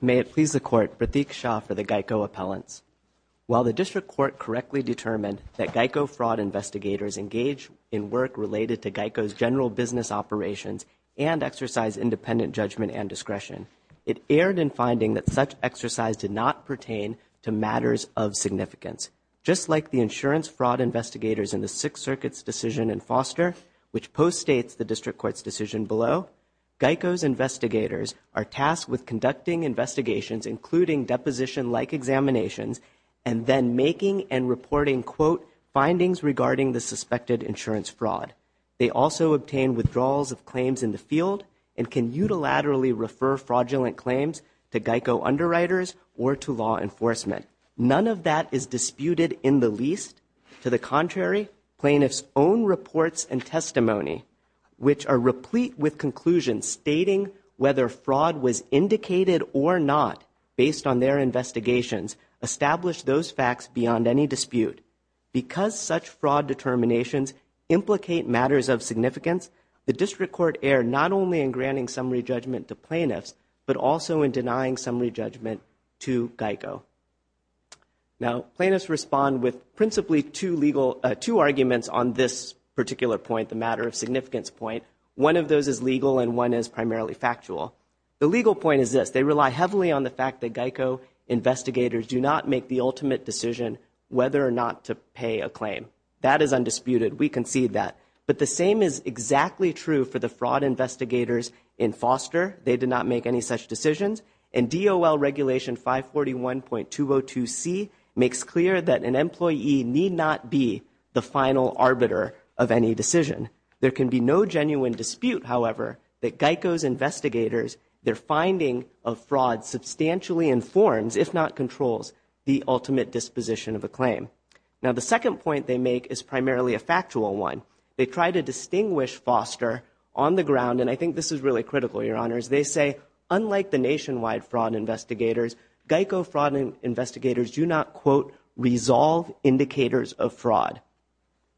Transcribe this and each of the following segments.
May it please the Court, Pratik Shah for the GEICO appellants. While the District Court correctly determined that GEICO fraud investigators engage in work related to GEICO's general business operations and exercise independent judgment and discretion, it erred in finding that such exercise did not pertain to matters of significance. Just like the insurance fraud investigators in the Sixth Circuit's decision in Foster, which post-states the District Court's decision below, GEICO's investigators are tasked with conducting investigations, including deposition-like examinations, and then making and reporting quote findings regarding the suspected insurance fraud. They also obtain withdrawals of claims in the field and can unilaterally refer fraudulent claims to GEICO underwriters or to law enforcement. None of that is disputed in the least. To the contrary, plaintiffs' own reports and testimony, which are replete with conclusions stating whether fraud was indicated or not based on their investigations, establish those facts beyond any dispute. Because such fraud determinations implicate matters of significance, the District Court erred not only in granting summary judgment to plaintiffs, but also in denying summary judgment to GEICO. Now, plaintiffs respond with principally two arguments on this particular point, the matter of significance point. One of those is legal and one is primarily factual. The legal point is this. They rely heavily on the fact that GEICO investigators do not make the ultimate decision whether or not to pay a claim. That is undisputed. We concede that. But the same is exactly true for the fraud investigators in Foster. They did not make any such decisions. And DOL Regulation 541.202C makes clear that an employee need not be the final arbiter of any decision. There can be no genuine dispute, however, that GEICO's investigators, their finding of fraud substantially informs, if not controls, the ultimate disposition of a claim. Now, the second point they make is primarily a factual one. They try to distinguish Foster on the ground, and I think this is really critical, Your Honors. They say, unlike the nationwide fraud investigators, GEICO fraud investigators do not, quote, resolve indicators of fraud.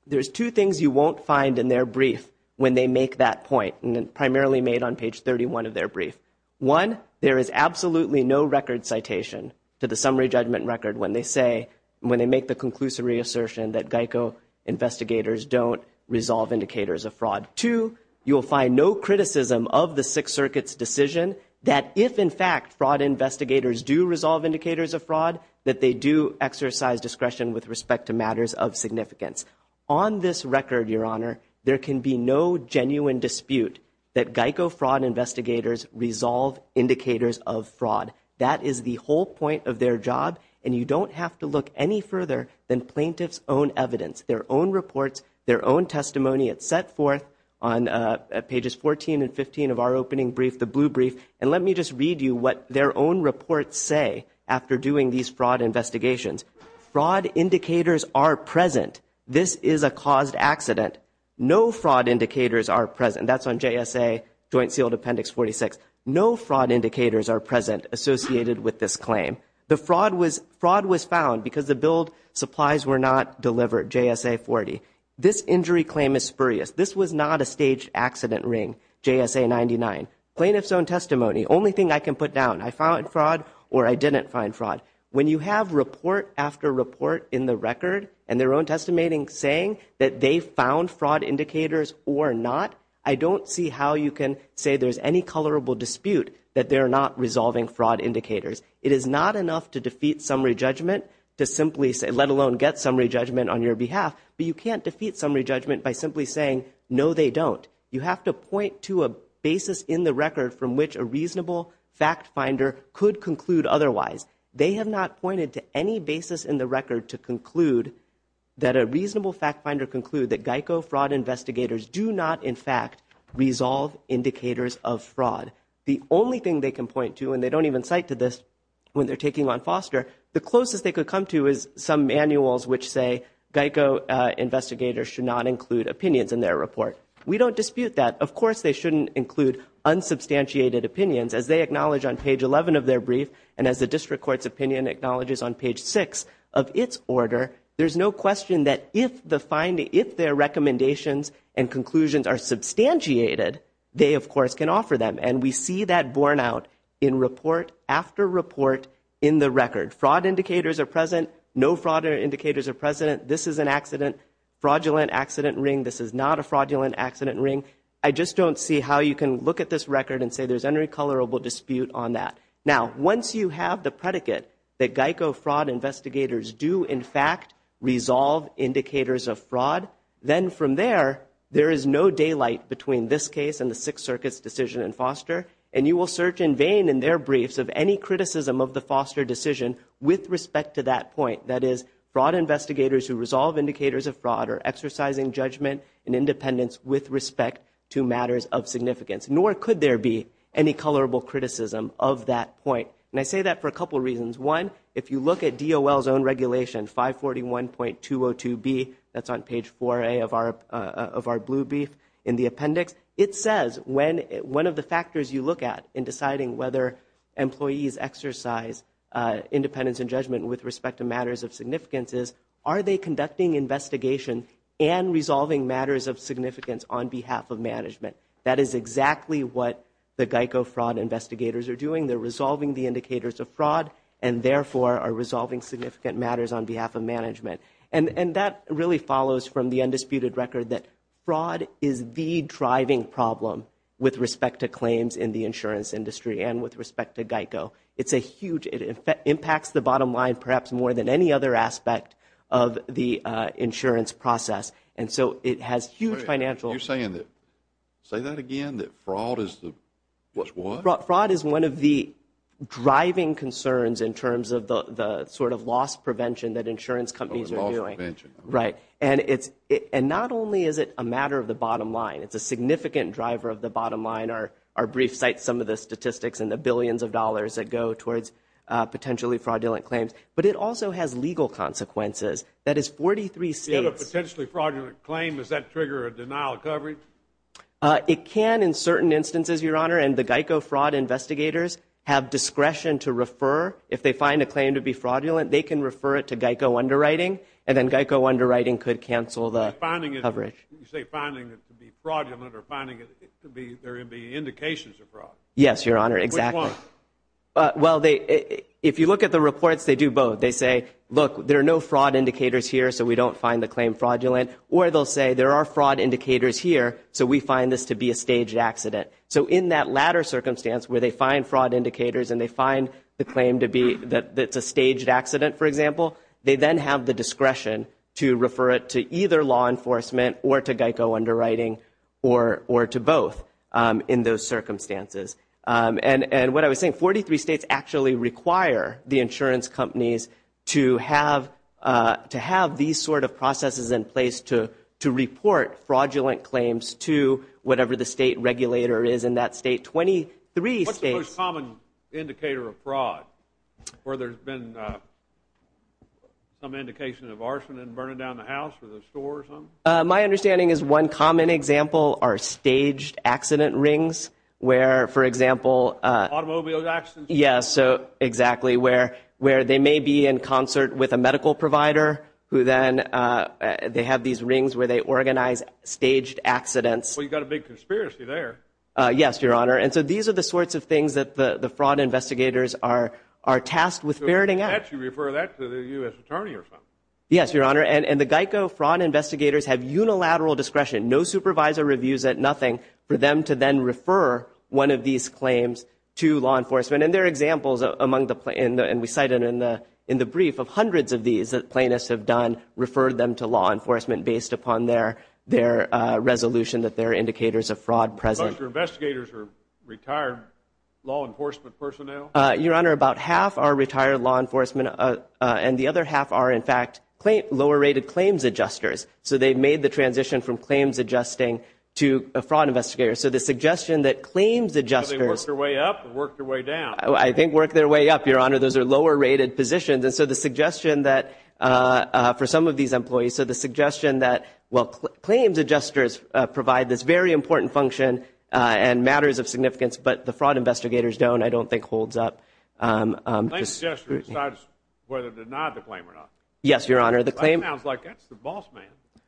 There's two things you won't find in their brief when they make that point, and primarily made on page 31 of their brief. One, there is absolutely no record citation to the summary judgment record when they say, when they make the conclusive reassertion that GEICO investigators don't resolve indicators of fraud. Two, you will find no criticism of the Sixth Circuit's decision that if, in fact, fraud investigators do resolve indicators of fraud, that they do exercise discretion with respect to matters of significance. On this record, Your Honor, there can be no genuine dispute that GEICO fraud investigators resolve indicators of fraud. That is the whole point of their job, and you don't have to look any further than plaintiff's own evidence, their own reports, their own testimony. It's set forth on pages 14 and 15 of our opening brief, the blue brief, and let me just read you what their own reports say after doing these fraud investigations. Fraud indicators are present. This is a caused accident. No fraud indicators are present. That's on JSA Joint Sealed Appendix 46. No fraud indicators are present associated with this claim. The fraud was found because the billed supplies were not delivered, JSA 40. This injury claim is spurious. This was not a staged accident ring, JSA 99. Plaintiff's own testimony, only thing I can put down, I found fraud or I didn't find fraud. When you have report after report in the record and their own testimony saying that they found fraud indicators or not, I don't see how you can say there's any colorable dispute that they're not resolving fraud indicators. It is not enough to defeat summary judgment to simply say, let alone get summary judgment on your behalf, but you can't defeat summary judgment by simply saying, no, they don't. You have to point to a basis in the record from which a reasonable fact finder could conclude otherwise. They have not pointed to any basis in the record to conclude that a reasonable fact finder conclude that GEICO fraud investigators do not, in fact, resolve indicators of fraud. The only thing they can point to, and they don't even cite to this when they're taking on Foster, the closest they could come to is some manuals which say GEICO investigators should not include opinions in their report. We don't dispute that. Of course, they shouldn't include unsubstantiated opinions as they acknowledge on page 11 of their brief, and as the district court's opinion acknowledges on page 6 of its order, there's no question that if their recommendations and conclusions are substantiated, they of course can offer them. And we see that borne out in report after report in the record. Fraud indicators are present. No fraud indicators are present. This is an accident, fraudulent accident ring. This is not a fraudulent accident ring. I just don't see how you can look at this record and say there's any colorable dispute on that. Now, once you have the predicate that GEICO fraud investigators do, in fact, resolve indicators of fraud, then from there, there is no daylight between this case and the Sixth Circuit's decision in Foster, and you will search in vain in their briefs of any criticism of the Foster decision with respect to that point. That is, fraud investigators who resolve indicators of fraud are exercising judgment and independence with respect to matters of significance, nor could there be any colorable criticism of that point. And I say that for a couple reasons. One, if you look at DOL's own regulation, 541.202B, that's on page 4A of our blue brief in the appendix, it says one of the factors you look at in deciding whether employees exercise independence and judgment with respect to matters of significance is, are they conducting investigation and resolving matters of significance on behalf of management. That is exactly what the GEICO fraud investigators are doing. They're resolving the indicators of fraud and, therefore, are resolving significant matters on behalf of management. And that really follows from the undisputed record that fraud is the driving problem with respect to claims in the insurance industry and with respect to GEICO. It's a huge, it impacts the bottom line perhaps more than any other aspect of the insurance process. And so it has huge financial. You're saying that, say that again, that fraud is the, is what? Fraud is one of the driving concerns in terms of the sort of loss prevention that insurance companies are doing. Oh, the loss prevention. Right. And it's, and not only is it a matter of the bottom line, it's a significant driver of the bottom line. Our brief cites some of the statistics and the billions of dollars that go towards potentially fraudulent claims. But it also has legal consequences. That is 43 states. If you have a potentially fraudulent claim, does that trigger a denial of coverage? It can in certain instances, Your Honor. And the GEICO fraud investigators have discretion to refer, if they find a claim to be fraudulent, they can refer it to GEICO underwriting. And then GEICO underwriting could cancel the coverage. You say finding it to be fraudulent or finding it to be, there be indications of fraud. Yes, Your Honor. Exactly. Which one? Well, they, if you look at the reports, they do both. They say, look, there are no fraud indicators here, so we don't find the claim fraudulent. Or they'll say there are fraud indicators here, so we find this to be a staged accident. So in that latter circumstance where they find fraud indicators and they find the claim to be that it's a staged accident, for example, they then have the discretion to refer it to either law enforcement or to GEICO underwriting or to both in those circumstances. And what I was saying, 43 states actually require the insurance companies to have these sort of processes in place to report fraudulent claims to whatever the state regulator is in that state. 23 states. What's the most common indicator of fraud where there's been some indication of arson and burning down the house or the store or something? My understanding is one common example are staged accident rings, where, for example— Automobile accidents? Yes, exactly, where they may be in concert with a medical provider who then, they have these rings where they organize staged accidents. Well, you've got a big conspiracy there. Yes, Your Honor. And so these are the sorts of things that the fraud investigators are tasked with ferreting out. So you refer that to the U.S. Attorney or something? Yes, Your Honor. And the GEICO fraud investigators have unilateral discretion. No supervisor reviews it, nothing, for them to then refer one of these claims to law enforcement. And there are examples among the—and we cite it in the brief—of hundreds of these that plaintiffs have done, referred them to law enforcement based upon their resolution that there are indicators of fraud present. So your investigators are retired law enforcement personnel? Your Honor, about half are retired law enforcement, and the other half are, in fact, lower-rated claims adjusters. So they've made the transition from claims adjusting to a fraud investigator. So the suggestion that claims adjusters— Have they worked their way up or worked their way down? I think worked their way up, Your Honor. Those are lower-rated positions, and so the suggestion that, for some of these employees, so the suggestion that, well, claims adjusters provide this very important function and matters of significance, but the fraud investigators don't, I don't think, holds up. Claims adjusters decide whether to deny the claim or not? Yes, Your Honor. The claim— That sounds like that's the boss man.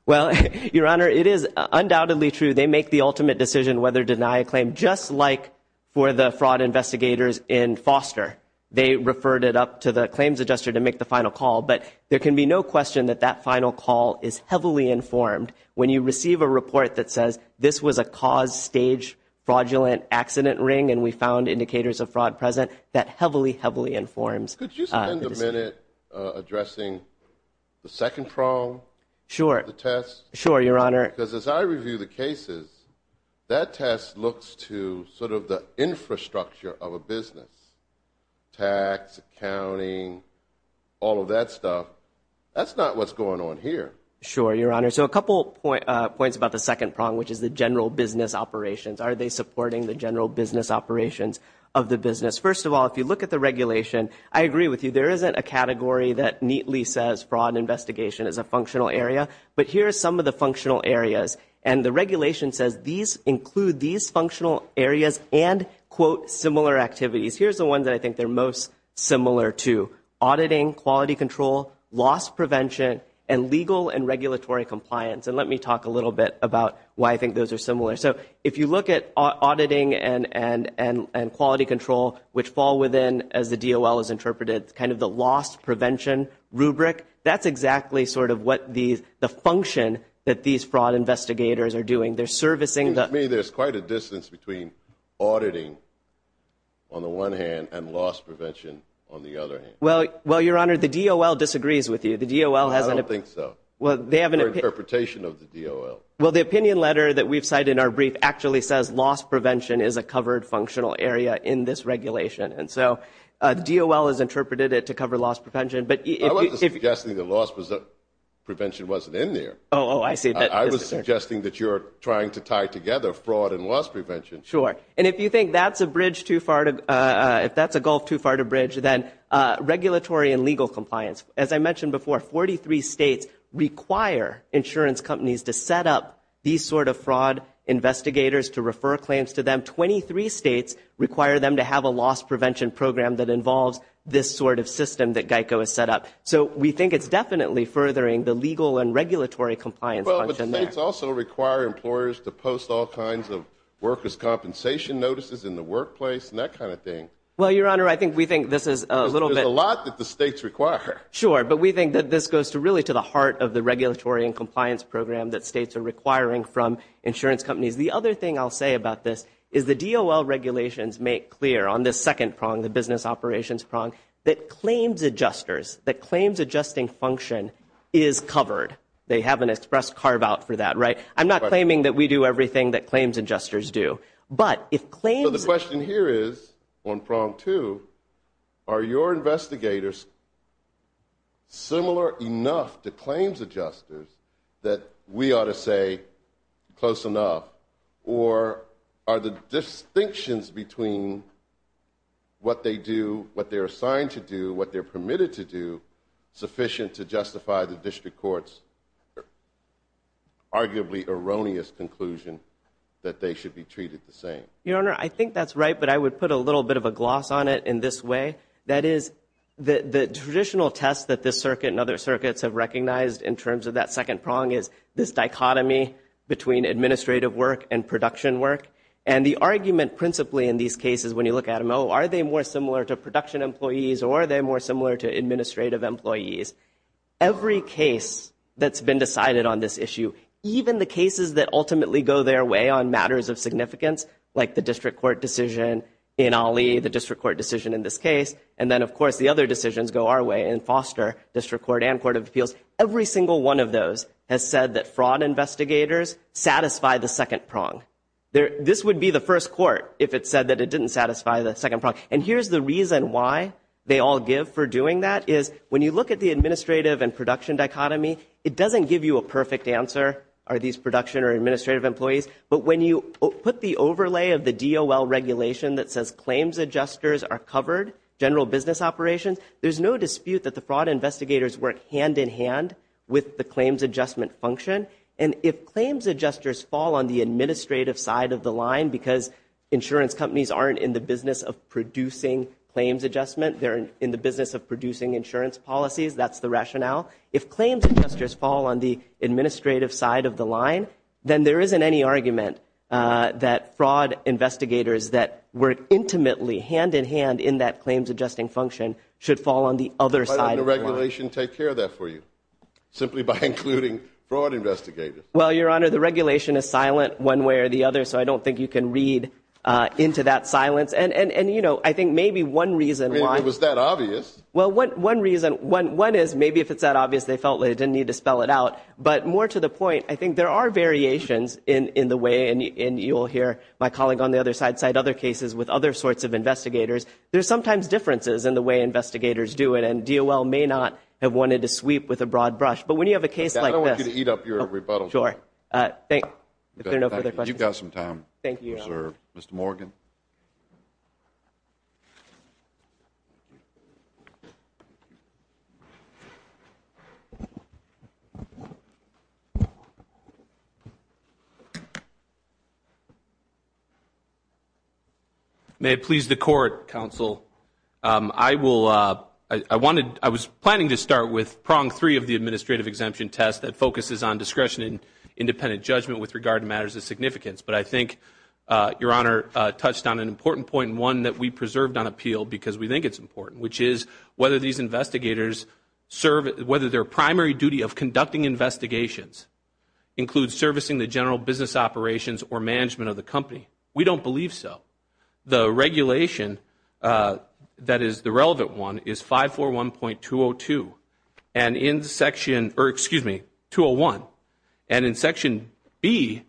Well, Your Honor, it is undoubtedly true. They make the ultimate decision whether to deny a claim, just like for the fraud investigators in Foster. They referred it up to the claims adjuster to make the final call. But there can be no question that that final call is heavily informed. When you receive a report that says, this was a cause-stage fraudulent accident ring and we found indicators of fraud present, that heavily, heavily informs the decision. Could you spend a minute addressing the second prong of the test? Sure, Your Honor. Because as I review the cases, that test looks to sort of the infrastructure of a business—tax, accounting, all of that stuff. That's not what's going on here. Sure, Your Honor. So a couple points about the second prong, which is the general business operations. Are they supporting the general business operations of the business? First of all, if you look at the regulation, I agree with you. There isn't a category that neatly says fraud investigation is a functional area. But here are some of the functional areas. And the regulation says these include these functional areas and, quote, similar activities. Here's the ones that I think they're most similar to. Auditing, quality control, loss prevention, and legal and regulatory compliance. And let me talk a little bit about why I think those are similar. So if you look at auditing and quality control, which fall within, as the DOL has interpreted, kind of the loss prevention rubric, that's exactly sort of what the function that these fraud investigators are doing. They're servicing the— To me, there's quite a distance between auditing, on the one hand, and loss prevention, on the other hand. Well, Your Honor, the DOL disagrees with you. The DOL has an— I don't think so. Well, they have an— Or interpretation of the DOL. Well, the opinion letter that we've cited in our brief actually says loss prevention is a covered functional area in this regulation. And so the DOL has interpreted it to cover loss prevention. But if you— I wasn't suggesting that loss prevention wasn't in there. Oh, I see. I was suggesting that you're trying to tie together fraud and loss prevention. Sure. And if you think that's a bridge too far to—if that's a gulf too far to bridge, then regulatory and legal compliance. As I mentioned before, 43 states require insurance companies to set up these sort of fraud investigators to refer claims to them. 23 states require them to have a loss prevention program that involves this sort of system that GEICO has set up. So we think it's definitely furthering the legal and regulatory compliance function there. But states also require employers to post all kinds of workers' compensation notices in the workplace and that kind of thing. Well, Your Honor, I think we think this is a little bit— Because there's a lot that the states require. Sure. But we think that this goes to really to the heart of the regulatory and compliance program that states are requiring from insurance companies. The other thing I'll say about this is the DOL regulations make clear on this second prong, the business operations prong, that claims adjusters, that claims adjusting function is covered. They have an express carve-out for that, right? I'm not claiming that we do everything that claims adjusters do. But if claims— So the question here is, on prong two, are your investigators similar enough to claims adjusters that we ought to say close enough? Or are the distinctions between what they do, what they're assigned to do, what they're assigned to do, an arguably erroneous conclusion that they should be treated the same? Your Honor, I think that's right, but I would put a little bit of a gloss on it in this way. That is, the traditional test that this circuit and other circuits have recognized in terms of that second prong is this dichotomy between administrative work and production work. And the argument principally in these cases, when you look at them, oh, are they more similar to production employees or are they more similar to administrative employees? Every case that's been decided on this issue, even the cases that ultimately go their way on matters of significance, like the district court decision in Ali, the district court decision in this case, and then, of course, the other decisions go our way in Foster, district court and court of appeals, every single one of those has said that fraud investigators satisfy the second prong. This would be the first court if it said that it didn't satisfy the second prong. And here's the reason why they all give for doing that, is when you look at the administrative and production dichotomy, it doesn't give you a perfect answer, are these production or administrative employees, but when you put the overlay of the DOL regulation that says claims adjusters are covered, general business operations, there's no dispute that the fraud investigators work hand in hand with the claims adjustment function. And if claims adjusters fall on the administrative side of the line because insurance companies aren't in the business of producing claims adjustment, they're in the business of producing insurance policies, that's the rationale. If claims adjusters fall on the administrative side of the line, then there isn't any argument that fraud investigators that work intimately, hand in hand in that claims adjusting function should fall on the other side of the line. Why doesn't the regulation take care of that for you, simply by including fraud investigators? Well, Your Honor, the regulation is silent one way or the other, so I don't think you can read into that silence. And, you know, I think maybe one reason why... It was that obvious. Well, one reason, one is maybe if it's that obvious, they felt they didn't need to spell it out. But more to the point, I think there are variations in the way, and you'll hear my colleague on the other side cite other cases with other sorts of investigators, there's sometimes differences in the way investigators do it, and DOL may not have wanted to sweep with a broad brush. But when you have a case like this... I don't want you to eat up your rebuttal. Sure. If there are no further questions... You've got some time. Thank you, Your Honor. Mr. Morgan? May it please the Court, Counsel, I was planning to start with prong three of the administrative exemption test that focuses on discretion and independent judgment with regard to matters of significance. But I think, Your Honor, touched on an important point, one that we preserved on appeal because we think it's important, which is whether these investigators serve... Whether their primary duty of conducting investigations includes servicing the general business operations or management of the company. We don't believe so. The regulation that is the relevant one is 541.202. And in Section... Or excuse me, 201. And in Section B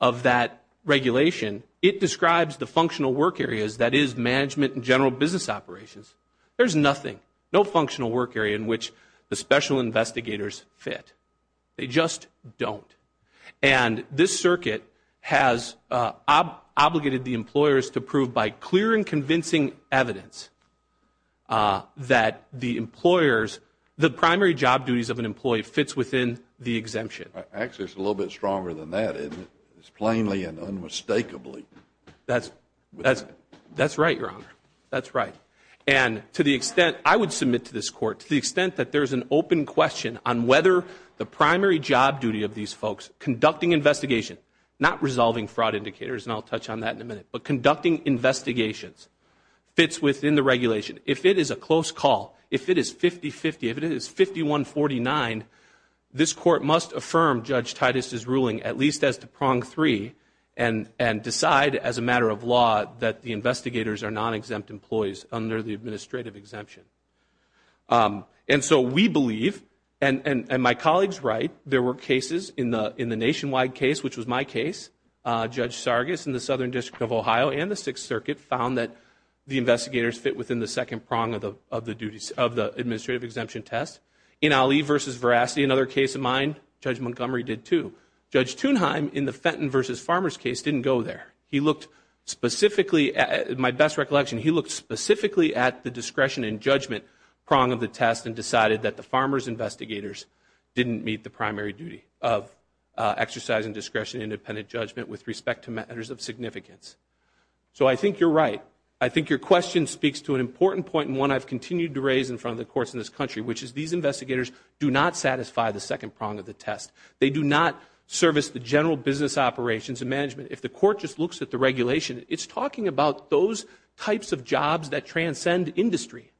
of that regulation, it describes the functional work areas that is management and general business operations. There's nothing. No functional work area in which the special investigators fit. They just don't. And this circuit has obligated the employers to prove by clear and convincing evidence that the employers... The primary job duties of an employee fits within the exemption. Actually, it's a little bit stronger than that, isn't it? It's plainly and unmistakably. That's right, Your Honor. That's right. And to the extent... I would submit to this Court, to the extent that there's an open question on whether the primary job duty of these folks conducting investigation... Not resolving fraud indicators, and I'll touch on that in a minute. But conducting investigations fits within the regulation. If it is a close call, if it is 50-50, if it is 5149, this Court must affirm Judge Titus's ruling at least as to prong three and decide as a matter of law that the investigators are non-exempt employees under the administrative exemption. And so we believe, and my colleagues write, there were cases in the nationwide case, which Ohio and the Sixth Circuit found that the investigators fit within the second prong of the administrative exemption test. In Ali v. Veracity, another case of mine, Judge Montgomery did too. Judge Thunheim in the Fenton v. Farmer's case didn't go there. He looked specifically... My best recollection, he looked specifically at the discretion and judgment prong of the test and decided that the farmer's investigators didn't meet the primary duty of exercising discretion and independent judgment with respect to matters of significance. So I think you're right. I think your question speaks to an important point, and one I've continued to raise in front of the courts in this country, which is these investigators do not satisfy the second prong of the test. They do not service the general business operations and management. If the court just looks at the regulation, it's talking about those types of jobs that transcend industry,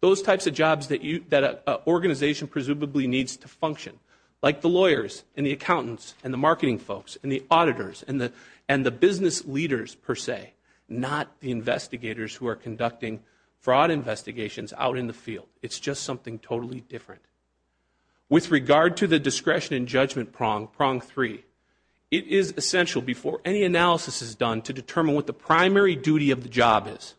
those types of jobs that an organization presumably needs to function, like the lawyers and the accountants and the marketing folks and the auditors and the business leaders per se, not the investigators who are conducting fraud investigations out in the field. It's just something totally different. With regard to the discretion and judgment prong, prong three, it is essential before any analysis is done to determine what the primary duty of the job is.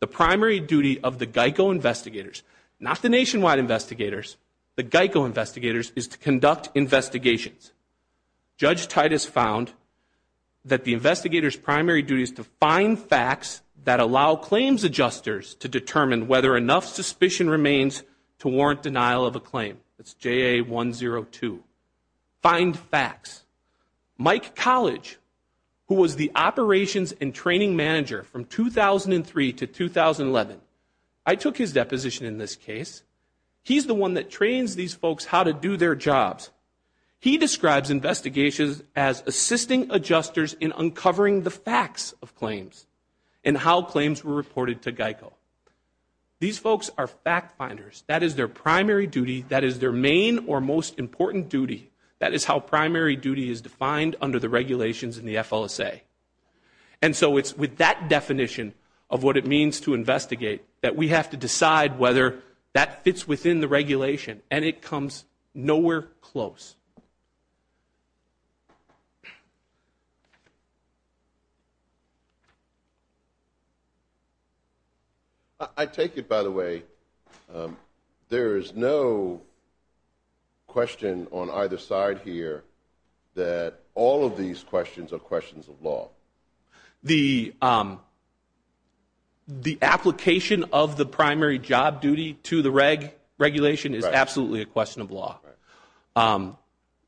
The primary duty of the GEICO investigators, not the nationwide investigators, the GEICO investigators is to conduct investigations. Judge Titus found that the investigator's primary duty is to find facts that allow claims adjusters to determine whether enough suspicion remains to warrant denial of a claim. That's JA102. Find facts. Mike College, who was the operations and training manager from 2003 to 2011, I took his deposition in this case. He's the one that trains these folks how to do their jobs. He describes investigations as assisting adjusters in uncovering the facts of claims and how claims were reported to GEICO. These folks are fact finders. That is their primary duty. That is their main or most important duty. That is how primary duty is defined under the regulations in the FLSA. And so it's with that definition of what it means to investigate that we have to decide whether that fits within the regulation. And it comes nowhere close. I take it, by the way, there is no question on either side here that all of these questions are questions of law. The application of the primary job duty to the regulation is absolutely a question of law.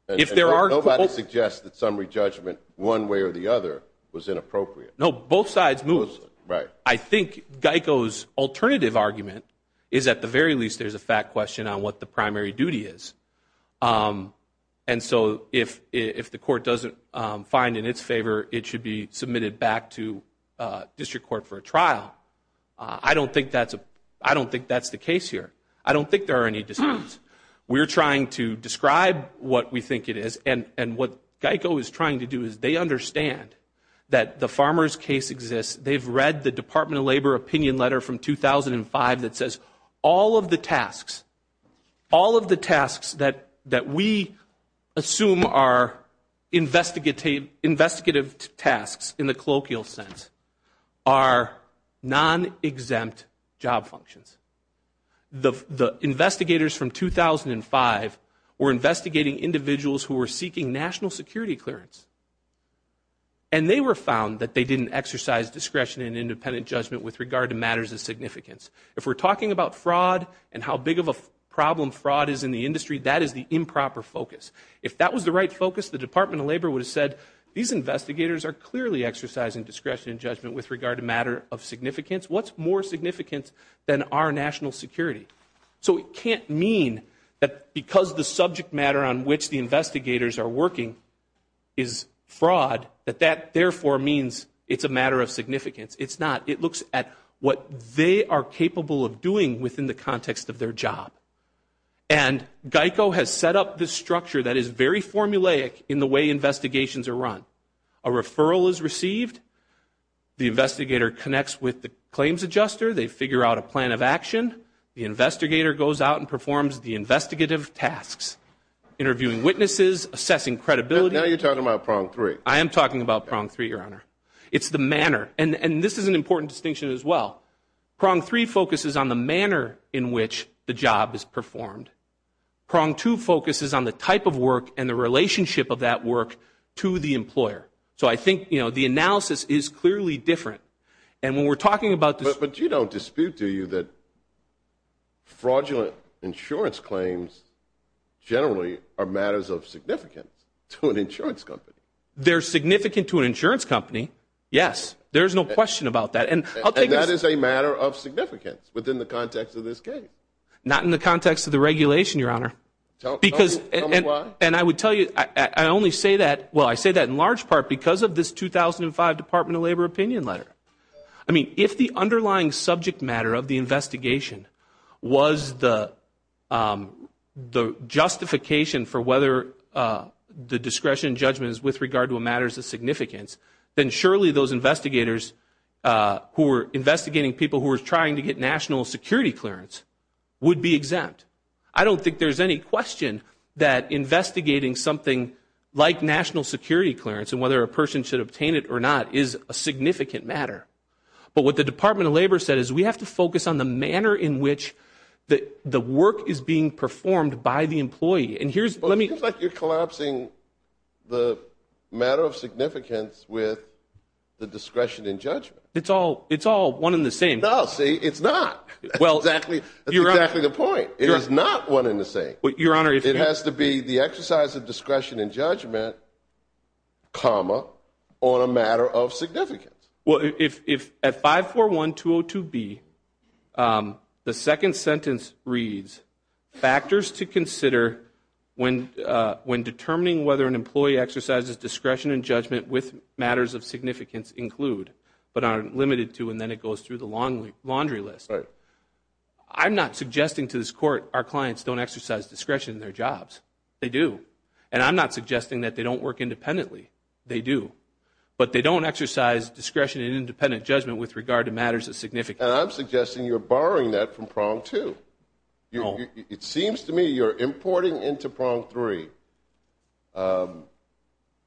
If there are... Nobody suggests that summary judgment one way or the other was inappropriate. No, both sides move. I think GEICO's alternative argument is at the very least there's a fact question on what the primary duty is. And so if the court doesn't find in its favor, it should be submitted back to district court for a trial. I don't think that's the case here. I don't think there are any disputes. We're trying to describe what we think it is. And what GEICO is trying to do is they understand that the farmer's case exists. They've read the Department of Labor opinion letter from 2005 that says all of the tasks, that we assume are investigative tasks in the colloquial sense, are non-exempt job functions. The investigators from 2005 were investigating individuals who were seeking national security clearance. And they were found that they didn't exercise discretion in independent judgment with regard to matters of significance. If we're talking about fraud and how big of a problem fraud is in the industry, that is the improper focus. If that was the right focus, the Department of Labor would have said, these investigators are clearly exercising discretion in judgment with regard to matter of significance. What's more significant than our national security? So it can't mean that because the subject matter on which the investigators are working is fraud, that that therefore means it's a matter of significance. It's not. It looks at what they are capable of doing within the context of their job. And GEICO has set up this structure that is very formulaic in the way investigations are run. A referral is received. The investigator connects with the claims adjuster. They figure out a plan of action. The investigator goes out and performs the investigative tasks, interviewing witnesses, assessing credibility. Now you're talking about prong three. I am talking about prong three, Your Honor. It's the manner. And this is an important distinction as well. Prong three focuses on the manner in which the job is performed. Prong two focuses on the type of work and the relationship of that work to the employer. So I think, you know, the analysis is clearly different. And when we're talking about this- But you don't dispute, do you, that fraudulent insurance claims generally are matters of significance to an insurance company? They're significant to an insurance company, yes. There's no question about that. And I'll take this- And that is a matter of significance within the context of this case. Not in the context of the regulation, Your Honor. Because- Tell me why. And I would tell you, I only say that, well, I say that in large part because of this 2005 Department of Labor opinion letter. I mean, if the underlying subject matter of the investigation was the justification for whether the discretion and judgment is with regard to a matter of significance, then surely those investigators who were investigating people who were trying to get national security clearance would be exempt. I don't think there's any question that investigating something like national security clearance and whether a person should obtain it or not is a significant matter. But what the Department of Labor said is we have to focus on the manner in which the work And here's- the discretion and judgment. It's all one and the same. No, see? It's not. Well- That's exactly the point. It is not one and the same. Your Honor, if- It has to be the exercise of discretion and judgment, comma, on a matter of significance. Well, if at 541202B, the second sentence reads, factors to consider when determining whether an employee exercises discretion and judgment with matters of significance include, but are limited to, and then it goes through the laundry list, I'm not suggesting to this Court our clients don't exercise discretion in their jobs. They do. And I'm not suggesting that they don't work independently. They do. But they don't exercise discretion in independent judgment with regard to matters of significance. And I'm suggesting you're borrowing that from Prong 2. It seems to me you're importing into Prong 3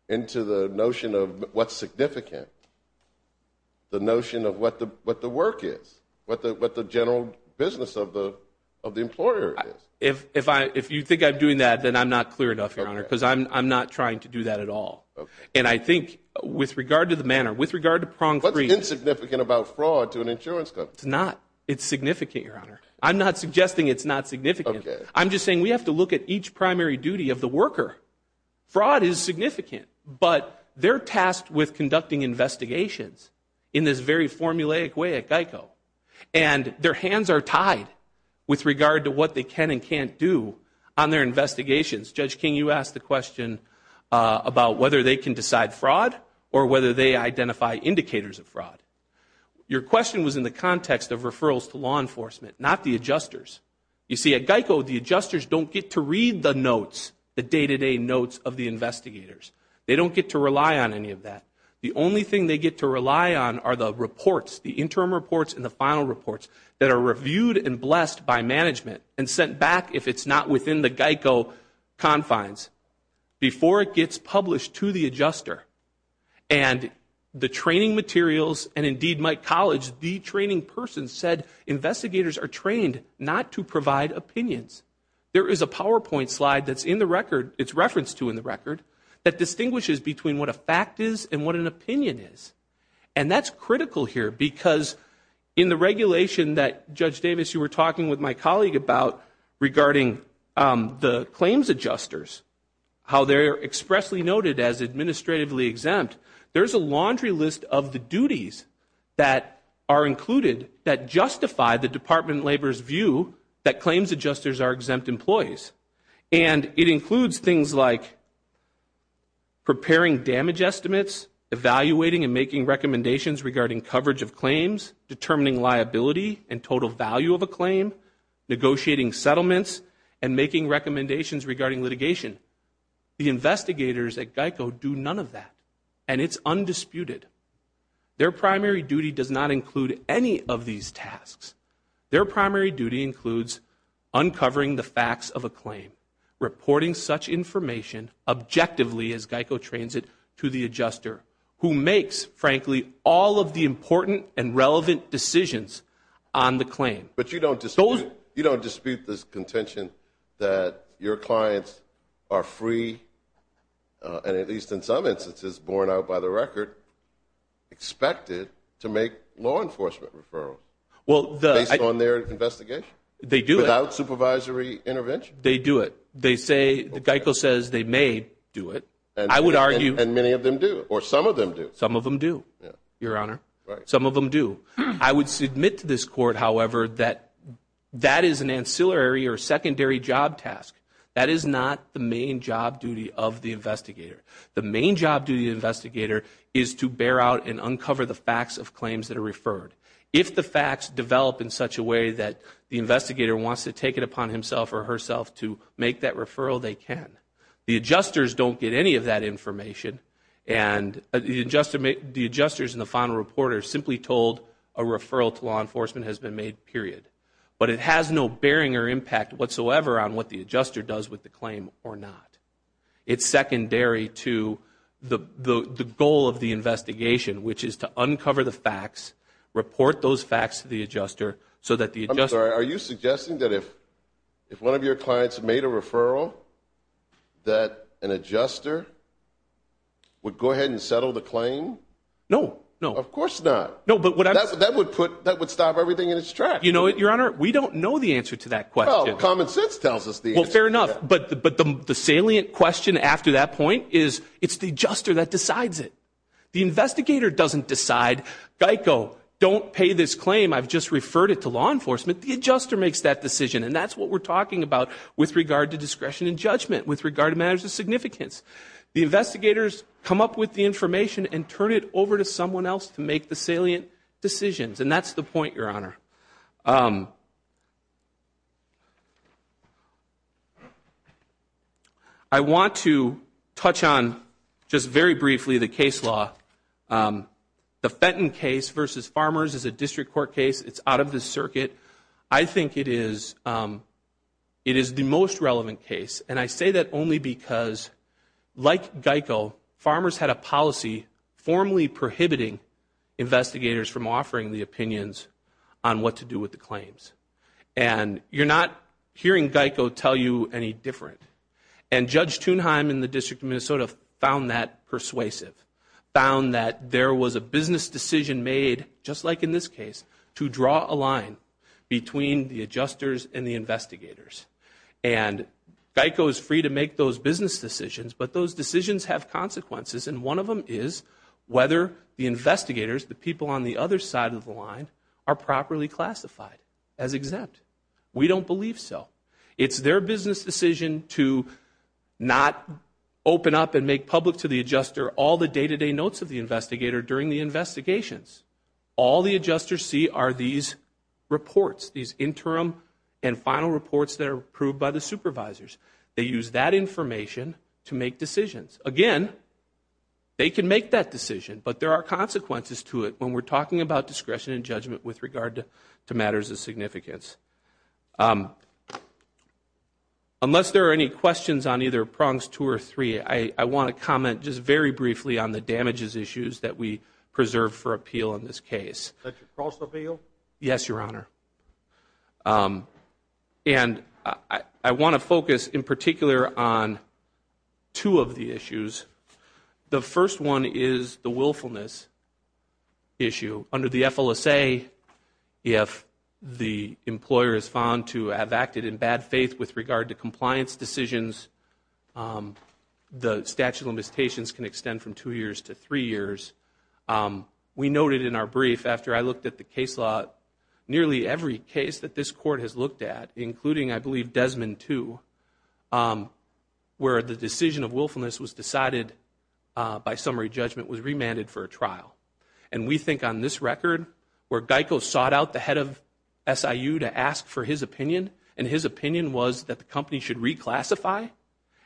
into the notion of what's significant, the notion of what the work is, what the general business of the employer is. If you think I'm doing that, then I'm not clear enough, Your Honor, because I'm not trying to do that at all. And I think, with regard to the manner, with regard to Prong 3- What's insignificant about fraud to an insurance company? It's not. It's significant, Your Honor. I'm not suggesting it's not significant. I'm just saying we have to look at each primary duty of the worker. Fraud is significant. But they're tasked with conducting investigations in this very formulaic way at GEICO. And their hands are tied with regard to what they can and can't do on their investigations. Judge King, you asked the question about whether they can decide fraud or whether they identify indicators of fraud. Your question was in the context of referrals to law enforcement, not the adjusters. You see, at GEICO, the adjusters don't get to read the notes, the day-to-day notes of the investigators. They don't get to rely on any of that. The only thing they get to rely on are the reports, the interim reports and the final reports that are reviewed and blessed by management and sent back, if it's not within the GEICO confines, before it gets published to the adjuster. And the training materials, and indeed my college, the training person said investigators are trained not to provide opinions. There is a PowerPoint slide that's in the record, it's referenced to in the record, that distinguishes between what a fact is and what an opinion is. And that's critical here because in the regulation that, Judge Davis, you were talking with my colleague about regarding the claims adjusters, how they're expressly noted as administratively exempt. There's a laundry list of the duties that are included that justify the department labor's view that claims adjusters are exempt employees. And it includes things like preparing damage estimates, evaluating and making recommendations regarding coverage of claims, determining liability and total value of a claim, negotiating settlements and making recommendations regarding litigation. The investigators at GEICO do none of that and it's undisputed. Their primary duty does not include any of these tasks. Their primary duty includes uncovering the facts of a claim, reporting such information objectively as GEICO trains it to the adjuster who makes, frankly, all of the important and relevant decisions on the claim. But you don't dispute this contention that your clients are free and at least in some instances, borne out by the record, expected to make law enforcement referrals based on their investigation? They do it. Without supervisory intervention? They do it. They say, GEICO says they may do it. I would argue. And many of them do, or some of them do. Some of them do, Your Honor. Some of them do. I would submit to this Court, however, that that is an ancillary or secondary job task. That is not the main job duty of the investigator. The main job duty of the investigator is to bear out and uncover the facts of claims that are referred. If the facts develop in such a way that the investigator wants to take it upon himself or herself to make that referral, they can. The adjusters don't get any of that information and the adjusters and the final reporter are a referral to law enforcement has been made, period. But it has no bearing or impact whatsoever on what the adjuster does with the claim or not. It's secondary to the goal of the investigation, which is to uncover the facts, report those facts to the adjuster, so that the adjuster... I'm sorry. Are you suggesting that if one of your clients made a referral, that an adjuster would go ahead and settle the claim? No. No. Of course not. No, but what I'm... That would put... That would stop everything in its tracks. You know, Your Honor, we don't know the answer to that question. Well, common sense tells us the answer. Well, fair enough. But the salient question after that point is, it's the adjuster that decides it. The investigator doesn't decide, Geico, don't pay this claim, I've just referred it to law enforcement. The adjuster makes that decision and that's what we're talking about with regard to discretion and judgment, with regard to matters of significance. The investigators come up with the information and turn it over to someone else to make the salient decisions, and that's the point, Your Honor. I want to touch on, just very briefly, the case law. The Fenton case versus Farmers is a district court case. It's out of the circuit. I think it is the most relevant case, and I say that only because, like Geico, Farmers had a policy formally prohibiting investigators from offering the opinions on what to do with the claims. And you're not hearing Geico tell you any different. And Judge Thunheim in the District of Minnesota found that persuasive, found that there was a business decision made, just like in this case, to draw a line between the adjusters and the investigators. And Geico is free to make those business decisions, but those decisions have consequences, and one of them is whether the investigators, the people on the other side of the line, are properly classified as exempt. We don't believe so. It's their business decision to not open up and make public to the adjuster all the day-to-day notes of the investigator during the investigations. All the adjusters see are these reports, these interim and final reports that are approved by the supervisors. They use that information to make decisions. Again, they can make that decision, but there are consequences to it when we're talking about discretion and judgment with regard to matters of significance. Unless there are any questions on either prongs two or three, I want to comment just very briefly on two of the challenges issues that we preserve for appeal in this case. Yes, Your Honor. And I want to focus in particular on two of the issues. The first one is the willfulness issue. Under the FLSA, if the employer is found to have acted in bad faith with regard to compliance decisions, the statute of limitations can extend from two years to three years. We noted in our brief, after I looked at the case law, nearly every case that this Court has looked at, including, I believe, Desmond II, where the decision of willfulness was decided by summary judgment was remanded for a trial. And we think on this record, where Geico sought out the head of SIU to ask for his opinion, and his opinion was that the company should reclassify,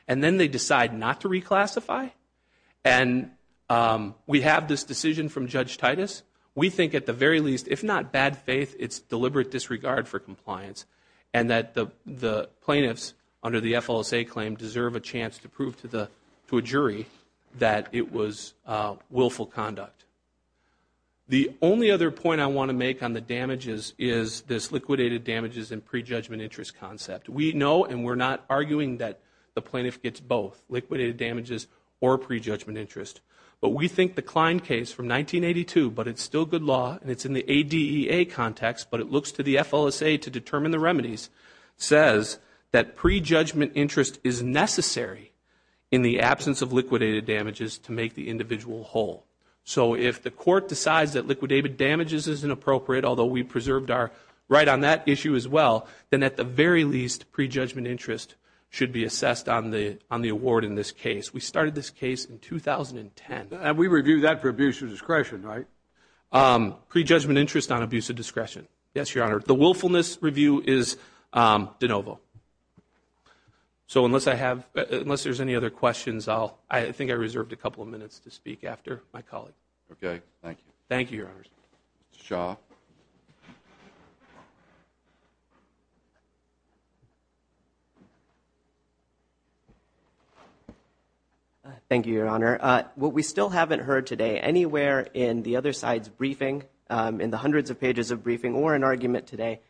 and then they decide not to reclassify. And we have this decision from Judge Titus. We think, at the very least, if not bad faith, it's deliberate disregard for compliance, and that the plaintiffs, under the FLSA claim, deserve a chance to prove to a jury that it was willful conduct. The only other point I want to make on the damages is this liquidated damages and prejudgment interest concept. We know, and we're not arguing that the plaintiff gets both, liquidated damages or prejudgment interest. But we think the Klein case from 1982, but it's still good law, and it's in the ADEA context, but it looks to the FLSA to determine the remedies, says that prejudgment interest is necessary in the absence of liquidated damages to make the individual whole. So if the court decides that liquidated damages isn't appropriate, although we preserved our right on that issue as well, then at the very least, prejudgment interest should be assessed on the award in this case. We started this case in 2010. We reviewed that for abuse of discretion, right? Prejudgment interest on abuse of discretion, yes, Your Honor. The willfulness review is de novo. So unless there's any other questions, I think I reserved a couple of minutes to speak after my colleague. Okay. Thank you. Thank you, Your Honor. Mr. Shaw. Thank you, Your Honor. What we still haven't heard today, anywhere in the other side's briefing, in the hundreds of pages of briefing, or the argument today,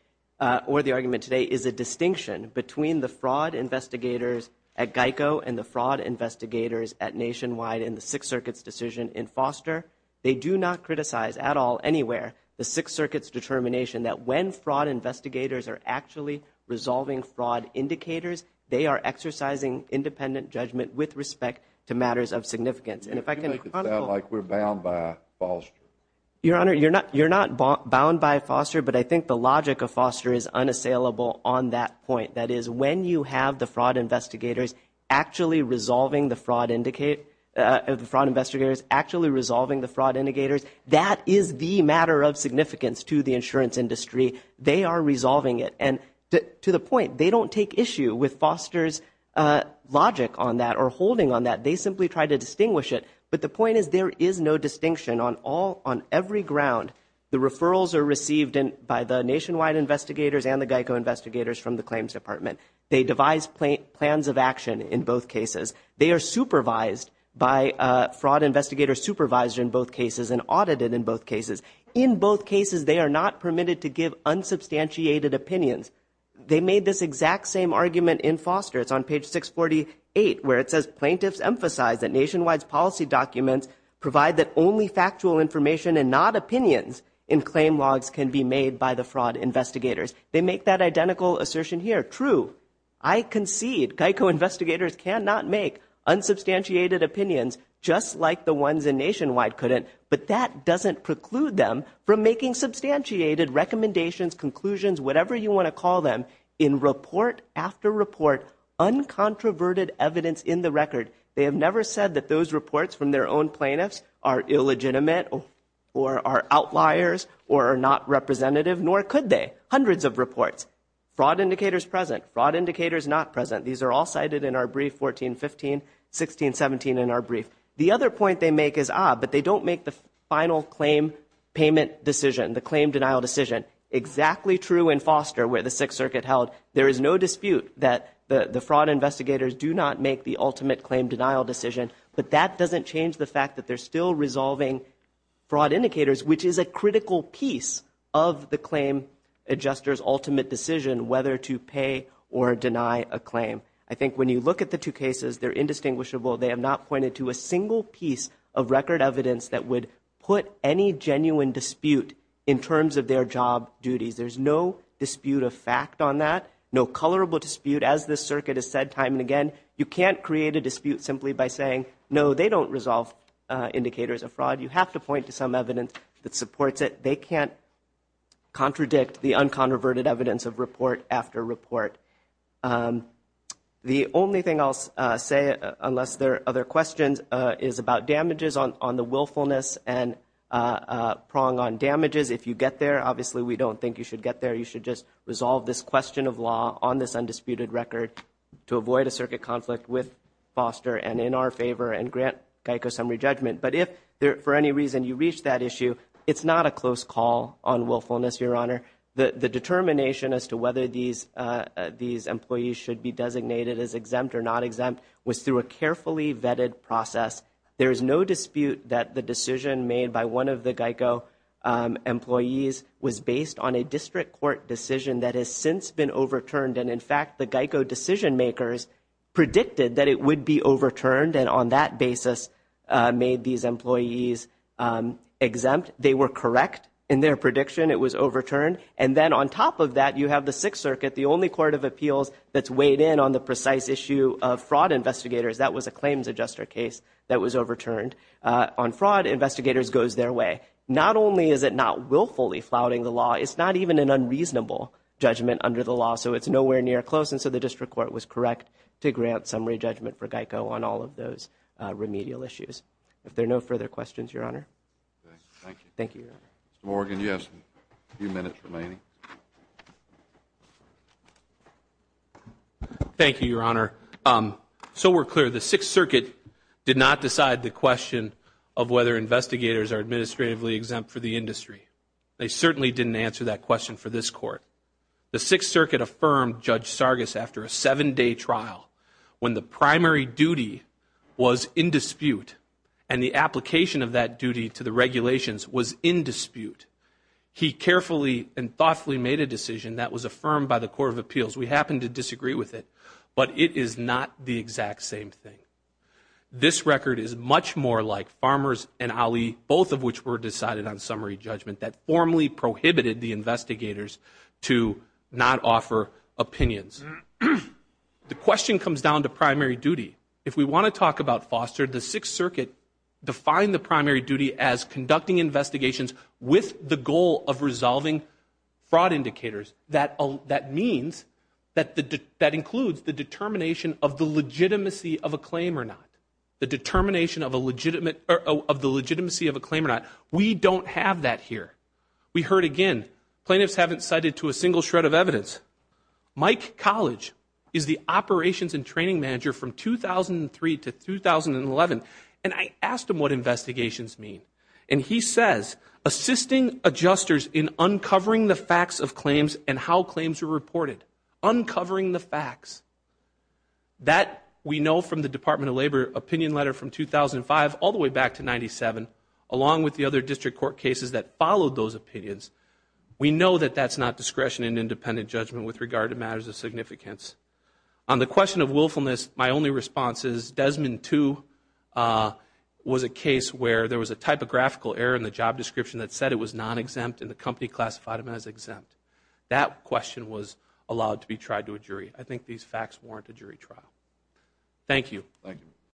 is a distinction between the fraud investigators at GEICO, and the fraud investigators at Nationwide, and the Sixth Circuit's decision in Foster. They do not criticize, at all, anywhere, the Sixth Circuit's determination that when fraud investigators are actually resolving fraud indicators, they are exercising independent judgment with respect to matters of significance. And if I can be practical. You make it sound like we're bound by Foster. Your Honor, you're not bound by Foster, but I think the logic of Foster is unassailable on that point. That is, when you have the fraud investigators actually resolving the fraud indicators, that is the matter of significance to the insurance industry. They are resolving it. And to the point, they don't take issue with Foster's logic on that, or holding on that. They simply try to distinguish it. But the point is, there is no distinction on every ground. The referrals are received by the Nationwide investigators and the GEICO investigators from the Claims Department. They devise plans of action in both cases. They are supervised by a fraud investigator, supervised in both cases, and audited in both cases. In both cases, they are not permitted to give unsubstantiated opinions. They made this exact same argument in Foster. It's on page 648, where it says, plaintiffs emphasize that Nationwide's policy documents provide that only factual information and not opinions in claim logs can be made by the fraud investigators. They make that identical assertion here. True. I concede, GEICO investigators cannot make unsubstantiated opinions, just like the ones in Nationwide couldn't. But that doesn't preclude them from making substantiated recommendations, conclusions, whatever you want to call them, in report after report, uncontroverted evidence in the record. They have never said that those reports from their own plaintiffs are illegitimate, or are outliers, or are not representative. Nor could they. Hundreds of reports, fraud indicators present, fraud indicators not present. These are all cited in our brief, 1415, 1617 in our brief. The other point they make is, ah, but they don't make the final claim payment decision, the claim denial decision, exactly true in Foster, where the Sixth Circuit held. There is no dispute that the fraud investigators do not make the ultimate claim denial decision. But that doesn't change the fact that they're still resolving fraud indicators, which is a critical piece of the claim adjuster's ultimate decision, whether to pay or deny a claim. I think when you look at the two cases, they're indistinguishable. They have not pointed to a single piece of record evidence that would put any genuine dispute in terms of their job duties. There's no dispute of fact on that, no colorable dispute. As the Circuit has said time and again, you can't create a dispute simply by saying, no, they don't resolve indicators of fraud. You have to point to some evidence that supports it. They can't contradict the uncontroverted evidence of report after report. The only thing I'll say, unless there are other questions, is about damages on the willfulness and prong on damages. If you get there, obviously we don't think you should get there. You should just resolve this question of law on this undisputed record to avoid a Circuit conflict with Foster and in our favor and grant Geico summary judgment. But if, for any reason, you reach that issue, it's not a close call on willfulness, Your Honor. The determination as to whether these employees should be designated as exempt or not exempt was through a carefully vetted process. There is no dispute that the decision made by one of the Geico employees was based on a district court decision that has since been overturned and, in fact, the Geico decision makers predicted that it would be overturned and on that basis made these employees exempt. They were correct in their prediction. It was overturned. And then on top of that, you have the Sixth Circuit, the only court of appeals that's weighed in on the precise issue of fraud investigators. That was a claims adjuster case that was overturned. On fraud, investigators goes their way. Not only is it not willfully flouting the law, it's not even an unreasonable judgment under the law. So it's nowhere near close and so the district court was correct to grant summary judgment for Geico on all of those remedial issues. If there are no further questions, Your Honor. Thank you. Thank you, Your Honor. Mr. Morgan, you have a few minutes remaining. Thank you, Your Honor. So we're clear. The Sixth Circuit did not decide the question of whether investigators are administratively exempt for the industry. They certainly didn't answer that question for this Court. The Sixth Circuit affirmed Judge Sargis after a seven-day trial when the primary duty was in dispute and the application of that duty to the regulations was in dispute. He carefully and thoughtfully made a decision that was affirmed by the court of appeals. We happen to disagree with it, but it is not the exact same thing. This record is much more like Farmer's and Ali, both of which were decided on summary judgment that formally prohibited the investigators to not offer opinions. The question comes down to primary duty. If we want to talk about foster, the Sixth Circuit defined the primary duty as conducting investigations with the goal of resolving fraud indicators. That means that includes the determination of the legitimacy of a claim or not. The determination of the legitimacy of a claim or not. We don't have that here. We heard again, plaintiffs haven't cited to a single shred of evidence. Mike College is the operations and training manager from 2003 to 2011, and I asked him what investigations mean, and he says, assisting adjusters in uncovering the facts of claims and how claims are reported. Uncovering the facts. That we know from the Department of Labor opinion letter from 2005 all the way back to 97, along with the other district court cases that followed those opinions, we know that that's not discretion and independent judgment with regard to matters of significance. On the question of willfulness, my only response is Desmond II was a case where there was a typographical error in the job description that said it was non-exempt and the company classified him as exempt. That question was allowed to be tried to a jury. I think these facts warrant a jury trial. Thank you.